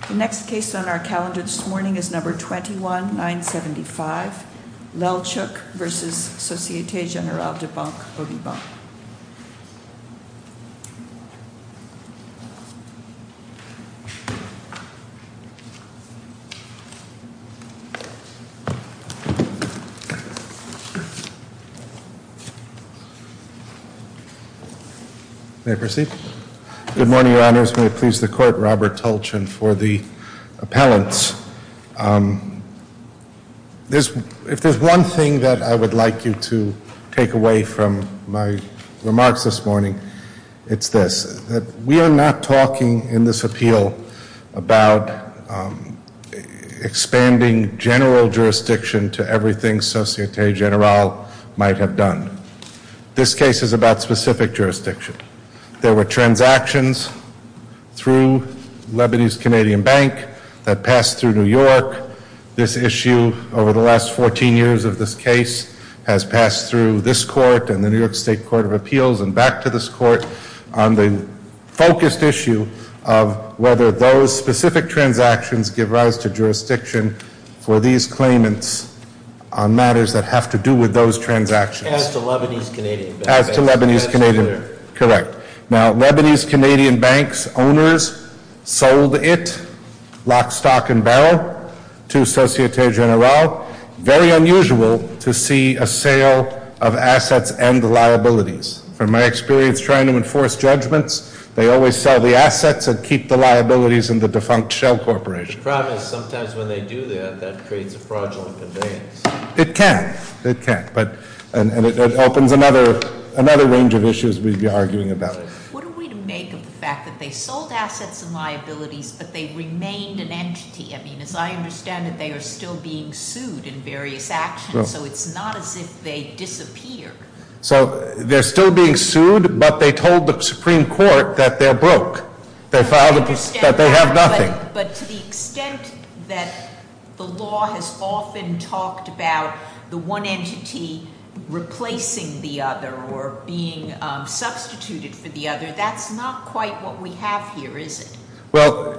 Di Banque. May I proceed? Good morning, Your Honors. May it please the Court, Robert Tulchin for the appellants. If there's one thing that I would like you to take away from my remarks this morning, it's this. We are not talking in this appeal about expanding general jurisdiction to everything Societe Generale might have done. This case is about specific jurisdiction. There were Lebanese-Canadian bank that passed through New York. This issue over the last 14 years of this case has passed through this court and the New York State Court of Appeals and back to this court on the focused issue of whether those specific transactions give rise to jurisdiction for these claimants on matters that have to do with those transactions. As to Lebanese-Canadian? As to Lebanese-Canadian, correct. Now, Lebanese- Canadian, it locked stock and barrel to Societe Generale. Very unusual to see a sale of assets and liabilities. From my experience trying to enforce judgments, they always sell the assets and keep the liabilities in the defunct shell corporation. The problem is sometimes when they do that, that creates a fraudulent conveyance. It can. It can. And it opens another range of issues we'd be arguing about. What are we to make of the fact that they sold assets and liabilities but they remained an entity? I mean, as I understand it, they are still being sued in various actions, so it's not as if they disappeared. So, they're still being sued, but they told the Supreme Court that they're broke. They filed a, that they have nothing. But to the extent that the law has often talked about the one entity replacing the other or being substituted for the reason. Well,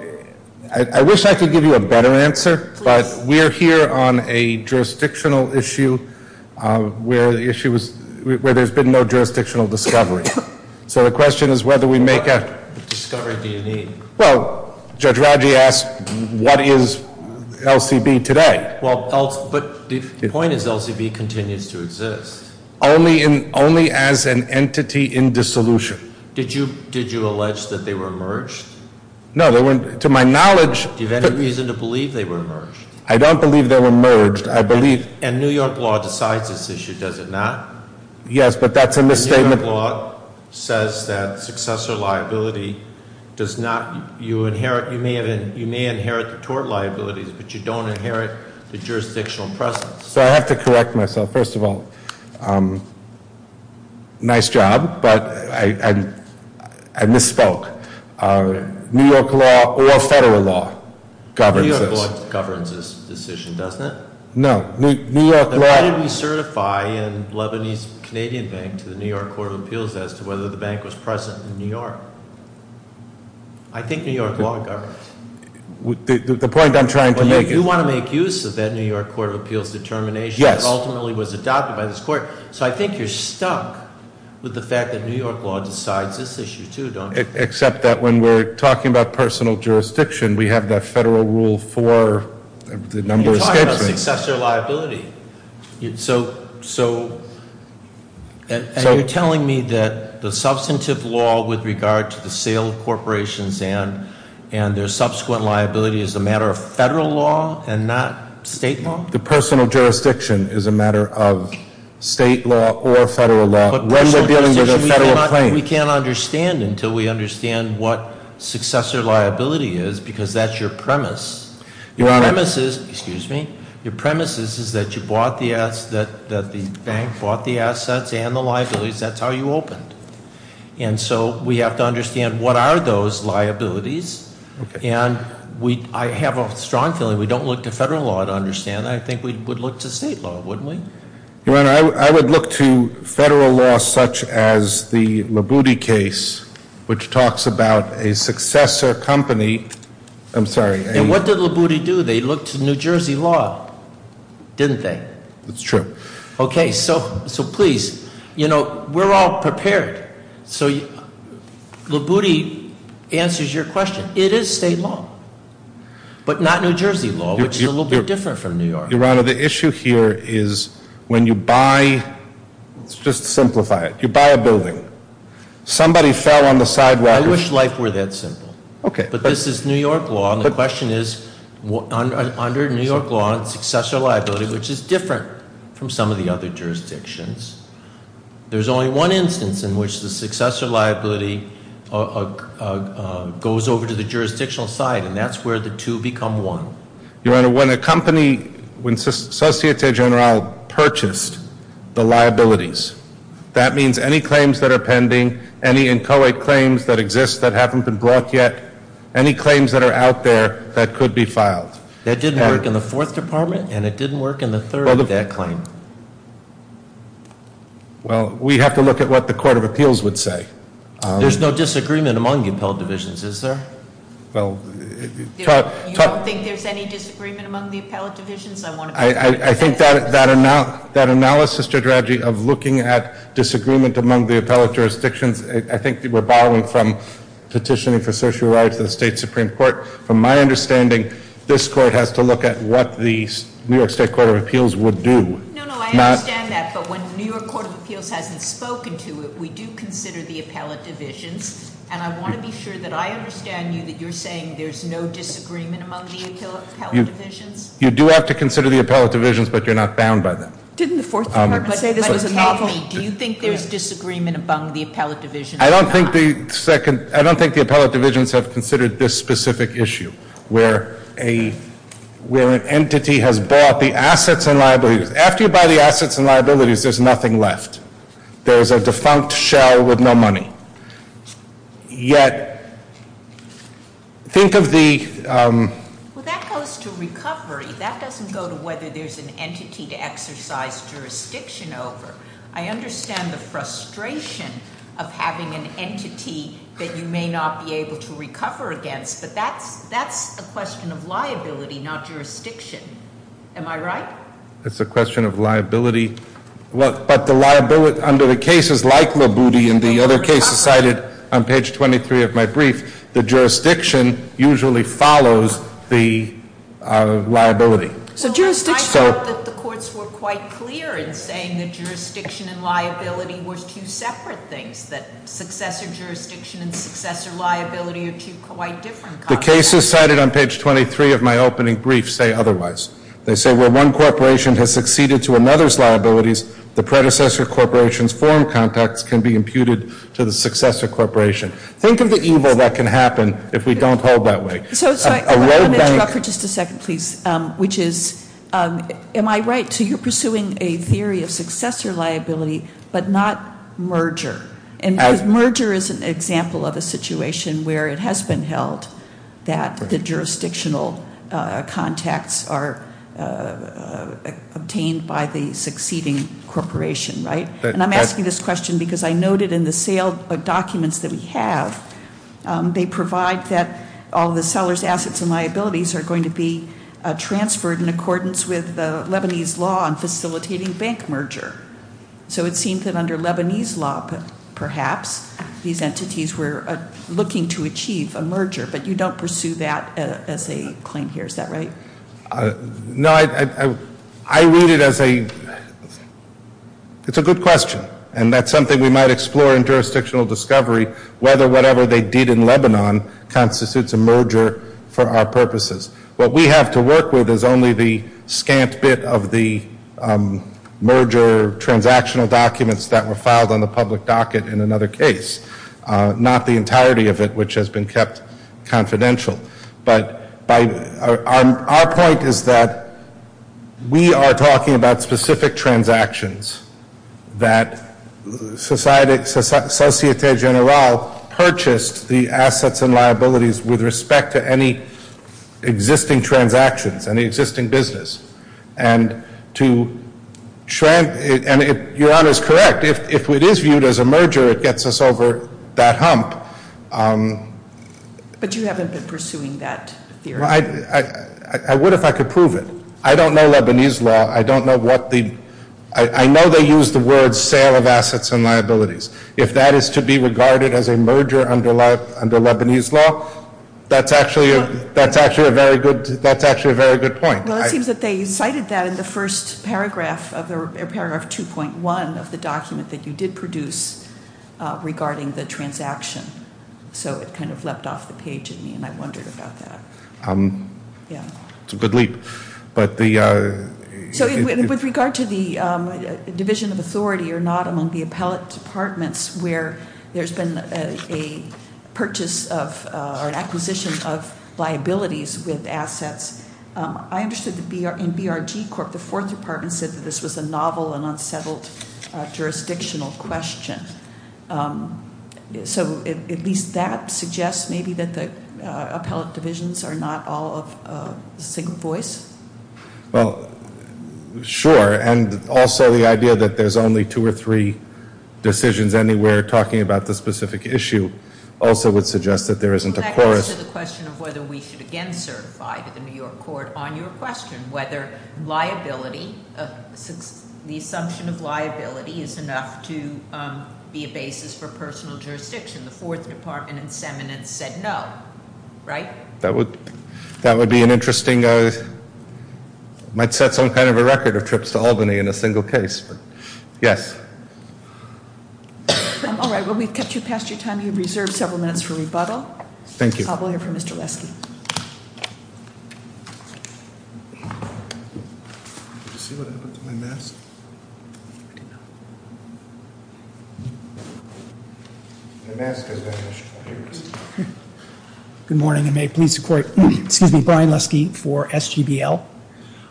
I wish I could give you a better answer, but we're here on a jurisdictional issue where the issue was, where there's been no jurisdictional discovery. So, the question is whether we make a- What discovery do you need? Well, Judge Radji asked, what is LCB today? Well, but the point is LCB continues to exist. Only in, only as an entity in dissolution. Did you, did you allege that they were merged? No, to my knowledge- Do you have any reason to believe they were merged? I don't believe they were merged. I believe- And New York law decides this issue, does it not? Yes, but that's a misstatement. New York law says that successor liability does not, you inherit, you may have, you may inherit the tort liabilities, but you don't inherit the jurisdictional presence. So, I have to correct myself. First of all, nice job, but I, I, I misspoke. New York law or federal law governs this. New York law governs this decision, doesn't it? No, New York law- Then why did we certify a Lebanese Canadian bank to the New York Court of Appeals as to whether the bank was present in New York? I think New York law governs. The, the point I'm trying to make is- Well, you, you want to make use of that New York Court of Appeals determination- Yes. That ultimately was adopted by this court. So, I think you're stuck with the fact that New York law decides this issue, too, don't you? Except that when we're talking about personal jurisdiction, we have that federal rule for the number of statesmen. You're talking about successor liability. So, so, and, and you're telling me that the substantive law with regard to the sale of corporations and, and their subsequent liability is a matter of federal law and not state law? The personal jurisdiction is a matter of state law or federal law. When we're dealing with a federal claim- But personal jurisdiction, we cannot, we can't understand until we understand what successor liability is, because that's your premise. Your premise is, excuse me, your premise is, is that you bought the, that, that the bank bought the assets and the liabilities. That's how you understand liabilities. Okay. And we, I have a strong feeling we don't look to federal law to understand that. I think we would look to state law, wouldn't we? Your Honor, I would, I would look to federal law such as the Labuti case, which talks about a successor company, I'm sorry, a- And what did Labuti do? They looked to New Jersey law, didn't they? That's true. Okay, so, so please, you know, we're all prepared. So, Labuti answers your question. It is state law, but not New Jersey law, which is a little bit different from New York. Your Honor, the issue here is when you buy, let's just simplify it, you buy a building, somebody fell on the sidewalk- I wish life were that simple. Okay. But this is New York law, and the question is, under New York law, successor liability, which is different from some of the other jurisdictions, there's only one instance in which the successor liability goes over to the jurisdictional side, and that's where the two become one. Your Honor, when a company, when Societe Generale purchased the liabilities, that means any claims that are pending, any inchoate claims that exist that haven't been brought yet, any claims that are out there that could be filed. That didn't work in the Fourth Department, and it didn't work in the Third, that claim. Well, we have to look at what the Court of Appeals would do. There's no disagreement among the appellate divisions, is there? You don't think there's any disagreement among the appellate divisions? I think that analysis strategy of looking at disagreement among the appellate jurisdictions, I think we're borrowing from petitioning for social rights of the State Supreme Court. From my understanding, this Court has to look at what the New York State Court of Appeals would do. No, no, I understand that, but when the New York Court of Appeals hasn't spoken to it, we do consider the appellate divisions. And I want to be sure that I understand you, that you're saying there's no disagreement among the appellate divisions? You do have to consider the appellate divisions, but you're not bound by them. Didn't the Fourth Department say there's a novel- But explain to me, do you think there's disagreement among the appellate divisions or not? I don't think the appellate divisions have considered this specific issue, where an entity has bought the assets and liabilities. After you buy the assets and liabilities, there's nothing left. There's a defunct shell with no money. Yet, think of the- Well, that goes to recovery. That doesn't go to whether there's an entity to exercise jurisdiction over. I understand the frustration of having an entity that you may not be able to recover against. But that's a question of liability, not jurisdiction. Am I right? That's a question of liability. But under the cases like Labuti and the other cases cited on page 23 of my brief, the jurisdiction usually follows the liability. I thought that the courts were quite clear in saying that jurisdiction and liability were two separate things, that successor jurisdiction and successor liability are two quite different concepts. The cases cited on page 23 of my opening brief say otherwise. They say where one corporation has succeeded to another's liabilities, the predecessor corporation's foreign contacts can be imputed to the successor corporation. Think of the evil that can happen if we don't hold that way. So I want to interrupt for just a second, please, which is, am I right? So you're pursuing a theory of successor liability but not merger? Because merger is an example of a situation where it has been held that the jurisdictional contacts are obtained by the succeeding corporation, right? And I'm asking this question because I noted in the sale documents that we have, they provide that all the seller's assets and liabilities are going to be transferred in accordance with the Lebanese law on facilitating bank merger. So it seems that under Lebanese law, perhaps, these entities were looking to achieve a merger. But you don't pursue that as a claim here, is that right? No, I read it as a, it's a good question. And that's something we might explore in jurisdictional discovery, whether whatever they did in Lebanon constitutes a merger for our purposes. What we have to work with is only the scant bit of the merger transactional documents that were filed on the public docket in another case. Not the entirety of it, which has been kept confidential. But our point is that we are talking about specific transactions that Societe Generale purchased the assets and liabilities with respect to any existing transactions, any existing business. And to, your honor is correct, if it is viewed as a merger, it gets us over that hump. But you haven't been pursuing that theory? I would if I could prove it. I don't know Lebanese law. I don't know what the, I know they use the words sale of assets and liabilities. If that is to be regarded as a merger under Lebanese law, that's actually a very good point. Well it seems that they cited that in the first paragraph, paragraph 2.1 of the document that you did produce regarding the transaction. So it kind of leapt off the page in me and I wondered about that. Yeah. It's a good leap. But the- So with regard to the division of authority or not among the appellate departments where there's been a purchase of or an acquisition of liabilities with assets, I understood that in BRG Corp, the fourth department said that this was a novel and unsettled jurisdictional question. So at least that suggests maybe that the appellate divisions are not all of a single voice? Well, sure. And also the idea that there's only two or three decisions anywhere talking about this specific issue also would suggest that there isn't a chorus- on your question whether liability, the assumption of liability is enough to be a basis for personal jurisdiction. The fourth department in seminence said no. Right? That would be an interesting, might set some kind of a record of trips to Albany in a single case. Yes. All right. Well we've kept you past your time. You have reserved several minutes for rebuttal. Thank you. We'll hear from Mr. Weske. Mr. Weske. Did you see what happened to my mask? I didn't know. My mask has vanished from my ears. Good morning and may it please the court. Excuse me. Brian Leske for SGBL.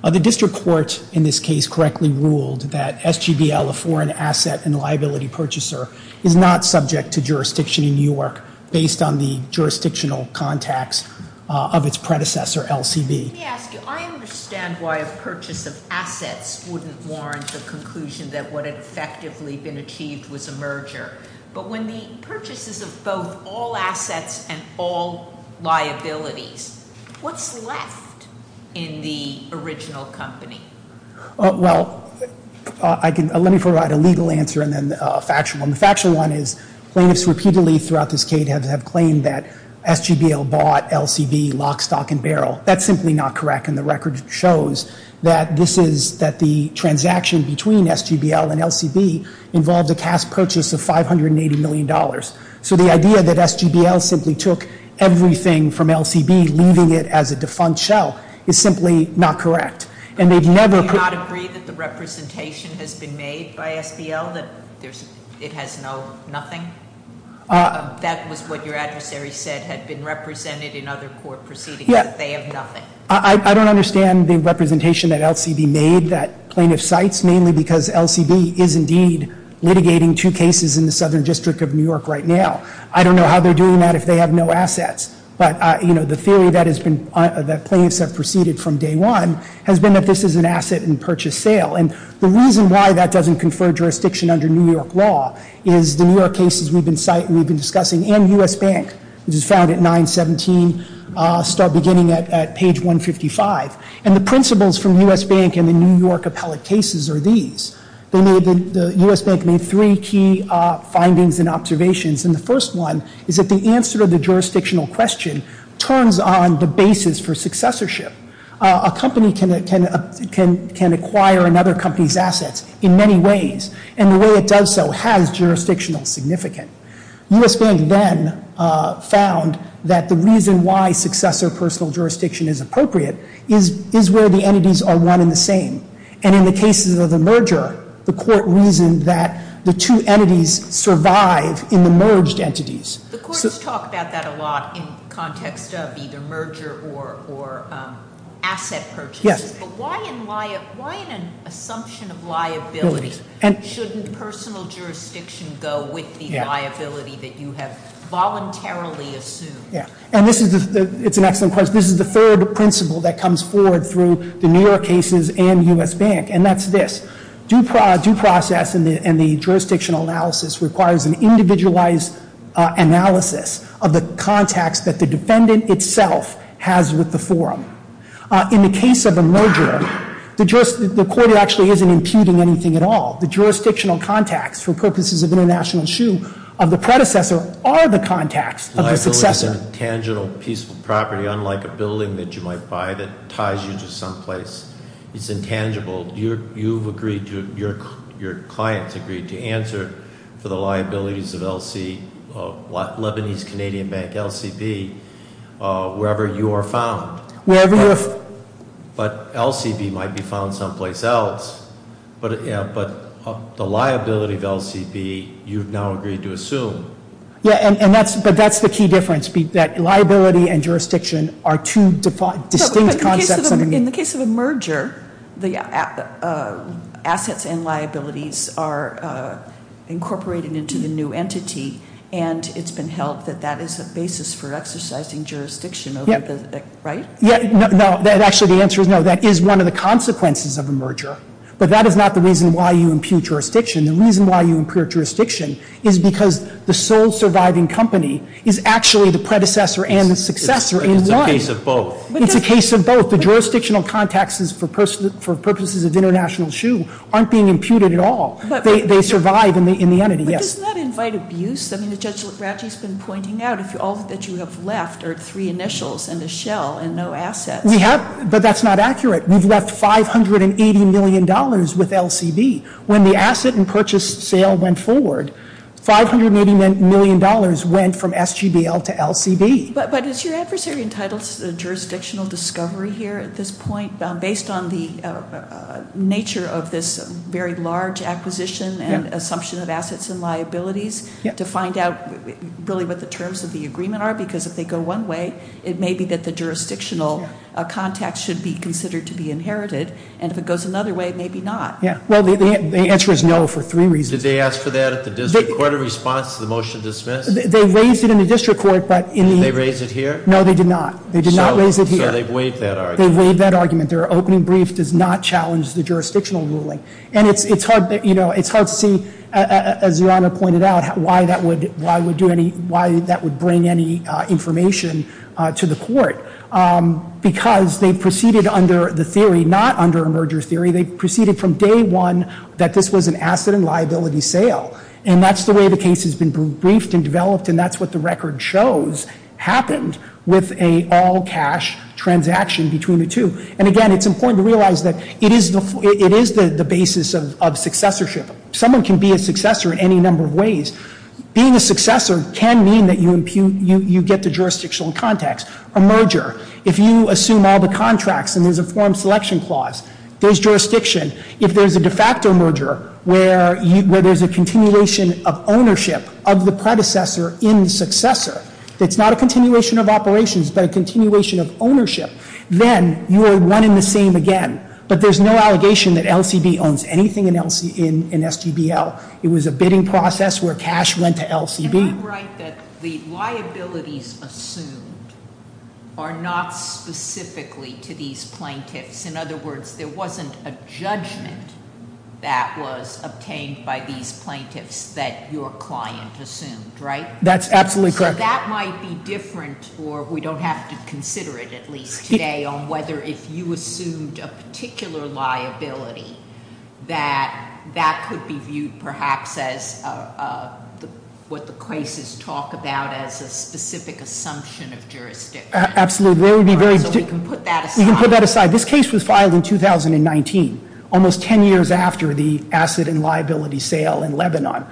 The district court in this case correctly ruled that SGBL, a foreign asset and liability purchaser, is not subject to jurisdiction in New York based on the jurisdictional contacts of its predecessor, LCB. Let me ask you. I understand why a purchase of assets wouldn't warrant the conclusion that what had effectively been achieved was a merger. But when the purchases of both all assets and all liabilities, what's left in the original company? Well, let me provide a legal answer and then a factual one. The factual one is plaintiffs repeatedly throughout this case have claimed that SGBL bought LCB lock, stock and barrel. That's simply not correct. And the record shows that the transaction between SGBL and LCB involved a cash purchase of $580 million. So the idea that SGBL simply took everything from LCB, leaving it as a defunct shell, is simply not correct. And they've never- Do you not agree that the representation has been made by SBL that it has no nothing? That was what your adversary said had been represented in other court proceedings, that they have nothing. I don't understand the representation that LCB made that plaintiff cites, mainly because LCB is indeed litigating two cases in the Southern District of New York right now. I don't know how they're doing that if they have no assets. But the theory that plaintiffs have proceeded from day one has been that this is an asset in purchase sale. And the reason why that doesn't confer jurisdiction under New York law is the New York cases we've been discussing, and U.S. Bank, which is found at 917, start beginning at page 155. And the principles from U.S. Bank and the New York appellate cases are these. The U.S. Bank made three key findings and observations. And the first one is that the answer to the jurisdictional question turns on the basis for successorship. A company can acquire another company's assets in many ways. And the way it does so has jurisdictional significance. U.S. Bank then found that the reason why successor personal jurisdiction is appropriate is where the entities are one and the same. And in the cases of the merger, the court reasoned that the two entities survive in the merged entities. The courts talk about that a lot in context of either merger or asset purchases. Yes. But why in an assumption of liability shouldn't personal jurisdiction go with the liability that you have voluntarily assumed? Yeah. And this is the, it's an excellent question. This is the third principle that comes forward through the New York cases and U.S. Bank. And that's this. Due process and the jurisdictional analysis requires an individualized analysis of the context that the defendant itself has with the forum. In the case of a merger, the court actually isn't imputing anything at all. The jurisdictional contacts for purposes of international shoe of the predecessor are the contacts of the successor. Liability is an intangible peaceful property unlike a building that you might buy that ties you to some place. It's intangible. You've agreed to, your clients agreed to answer for the liabilities of Lebanese Canadian Bank, LCB, wherever you are found. But LCB might be found someplace else. But the liability of LCB, you've now agreed to assume. Yeah, but that's the key difference, that liability and jurisdiction are two distinct concepts. In the case of a merger, the assets and liabilities are incorporated into the new entity. And it's been held that that is a basis for exercising jurisdiction, right? No, actually the answer is no. That is one of the consequences of a merger. But that is not the reason why you impute jurisdiction. The reason why you impute jurisdiction is because the sole surviving company is actually the predecessor and the successor in line. It's a case of both. It's a case of both. The jurisdictional contacts for purposes of international shoe aren't being imputed at all. They survive in the entity, yes. But doesn't that invite abuse? I mean, as Judge Lagrange has been pointing out, all that you have left are three initials and a shell and no assets. We have, but that's not accurate. We've left $580 million with LCB. When the asset and purchase sale went forward, $580 million went from SGBL to LCB. But is your adversary entitled to jurisdictional discovery here at this point, based on the nature of this very large acquisition and assumption of assets and liabilities, to find out really what the terms of the agreement are? Because if they go one way, it may be that the jurisdictional contacts should be considered to be inherited. And if it goes another way, maybe not. Well, the answer is no for three reasons. Did they ask for that at the district court in response to the motion to dismiss? They raised it in the district court. Did they raise it here? No, they did not. They did not raise it here. So they waived that argument. They waived that argument. Their opening brief does not challenge the jurisdictional ruling. And it's hard to see, as Your Honor pointed out, why that would bring any information to the court. Because they proceeded under the theory, not under a merger theory, they proceeded from day one that this was an asset and liability sale. And that's the way the case has been briefed and developed, and that's what the record shows happened with an all-cash transaction between the two. And, again, it's important to realize that it is the basis of successorship. Someone can be a successor in any number of ways. Being a successor can mean that you get the jurisdictional contacts. A merger, if you assume all the contracts and there's a form selection clause, there's jurisdiction. If there's a de facto merger where there's a continuation of ownership of the predecessor in the successor, it's not a continuation of operations but a continuation of ownership, then you are one in the same again. But there's no allegation that LCB owns anything in SGBL. It was a bidding process where cash went to LCB. Am I right that the liabilities assumed are not specifically to these plaintiffs? In other words, there wasn't a judgment that was obtained by these plaintiffs that your client assumed, right? That's absolutely correct. So that might be different, or we don't have to consider it at least today, on whether if you assumed a particular liability, that that could be viewed perhaps as what the cases talk about as a specific assumption of jurisdiction. Absolutely. So we can put that aside. This case was filed in 2019, almost ten years after the asset and liability sale in Lebanon,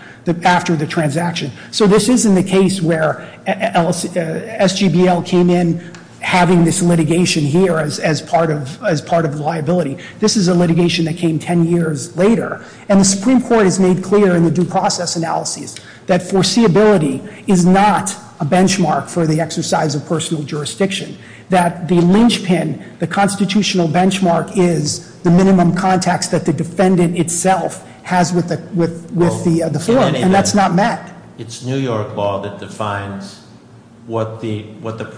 after the transaction. So this isn't a case where SGBL came in having this litigation here as part of liability. This is a litigation that came ten years later. And the Supreme Court has made clear in the due process analyses that foreseeability is not a benchmark for the exercise of personal jurisdiction. That the linchpin, the constitutional benchmark, is the minimum context that the defendant itself has with the form, and that's not met. It's New York law that defines what the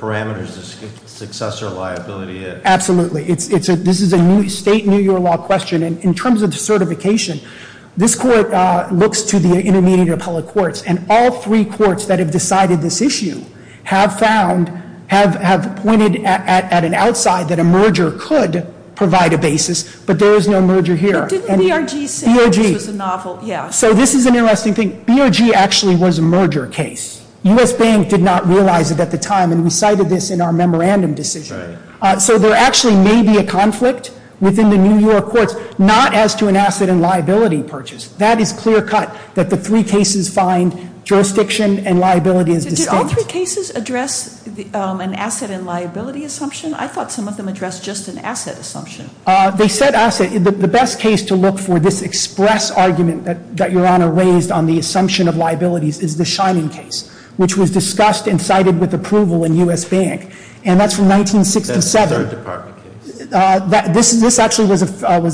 parameters of successor liability is. Absolutely. This is a state New York law question. And in terms of the certification, this court looks to the intermediate appellate courts. And all three courts that have decided this issue have found, have pointed at an outside that a merger could provide a basis. But there is no merger here. But didn't BRG say this was a novel, yeah. So this is an interesting thing. BRG actually was a merger case. U.S. Bank did not realize it at the time, and we cited this in our memorandum decision. So there actually may be a conflict within the New York courts, not as to an asset and liability purchase. That is clear cut, that the three cases find jurisdiction and liability as distinct. Did all three cases address an asset and liability assumption? I thought some of them addressed just an asset assumption. They said asset. The best case to look for this express argument that Your Honor raised on the assumption of liabilities is the Shining case, which was discussed and cited with approval in U.S. Bank. And that's from 1967. That's a third department case. This actually was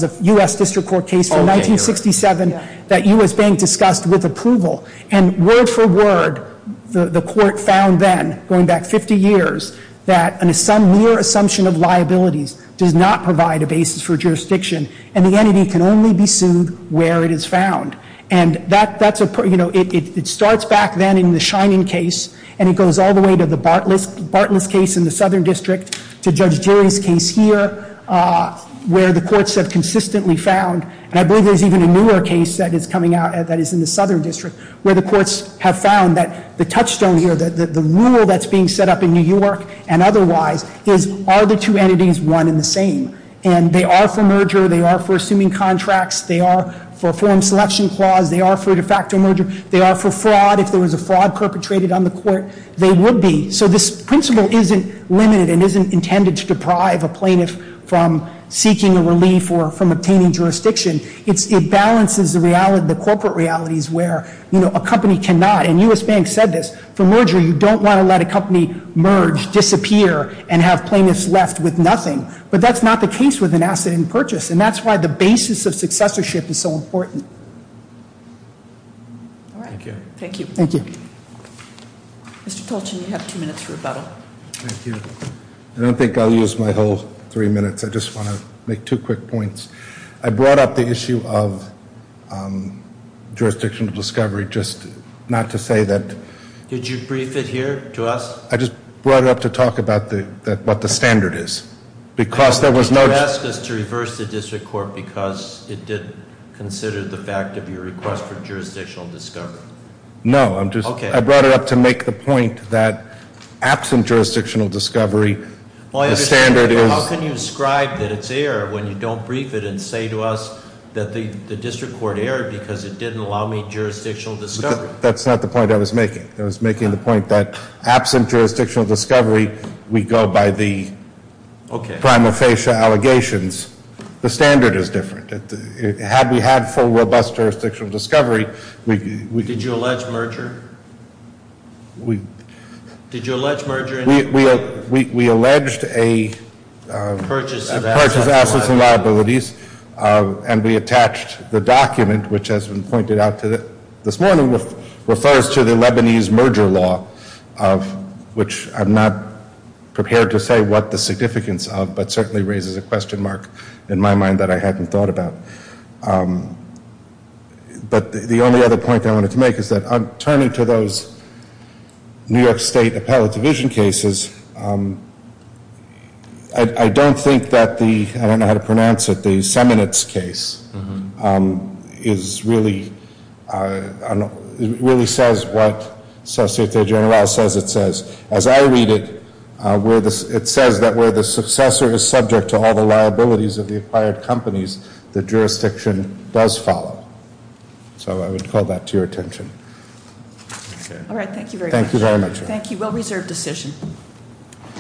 a U.S. District Court case from 1967 that U.S. Bank discussed with approval. And word for word, the court found then, going back 50 years, that a mere assumption of liabilities does not provide a basis for jurisdiction, and the entity can only be sued where it is found. And that's a, you know, it starts back then in the Shining case, and it goes all the way to the Bartless case in the Southern District, to Judge Jerry's case here, where the courts have consistently found, and I believe there's even a newer case that is coming out that is in the Southern District, where the courts have found that the touchstone here, the rule that's being set up in New York and otherwise, is are the two entities one and the same? And they are for merger. They are for assuming contracts. They are for a form selection clause. They are for de facto merger. They are for fraud. If there was a fraud perpetrated on the court, they would be. So this principle isn't limited and isn't intended to deprive a plaintiff from seeking a relief or from obtaining jurisdiction. It balances the corporate realities where, you know, a company cannot, and U.S. Bank said this, for merger you don't want to let a company merge, disappear, and have plaintiffs left with nothing. But that's not the case with an asset in purchase, and that's why the basis of successorship is so important. All right. Thank you. Thank you. Mr. Tolchin, you have two minutes for rebuttal. Thank you. I don't think I'll use my whole three minutes. I just want to make two quick points. I brought up the issue of jurisdictional discovery, just not to say that- Did you brief it here to us? I just brought it up to talk about what the standard is, because there was no- No, I'm just- Okay. I brought it up to make the point that absent jurisdictional discovery, the standard is- How can you ascribe that it's error when you don't brief it and say to us that the district court erred because it didn't allow me jurisdictional discovery? That's not the point I was making. I was making the point that absent jurisdictional discovery, we go by the prima facie allegations. The standard is different. Had we had full, robust jurisdictional discovery- Did you allege merger? Did you allege merger in- We alleged a- Purchase of assets and liabilities. Purchase of assets and liabilities, and we attached the document, which has been pointed out this morning, refers to the Lebanese merger law, which I'm not prepared to say what the significance of, but certainly raises a question mark in my mind that I hadn't thought about. But the only other point I wanted to make is that, turning to those New York State Appellate Division cases, I don't think that the- I don't know how to pronounce it- the Seminitz case is really- It really says what the Associate General says it says. As I read it, it says that where the successor is subject to all the liabilities of the acquired companies, the jurisdiction does follow. So I would call that to your attention. All right, thank you very much. Thank you very much. Thank you. Well-reserved decision.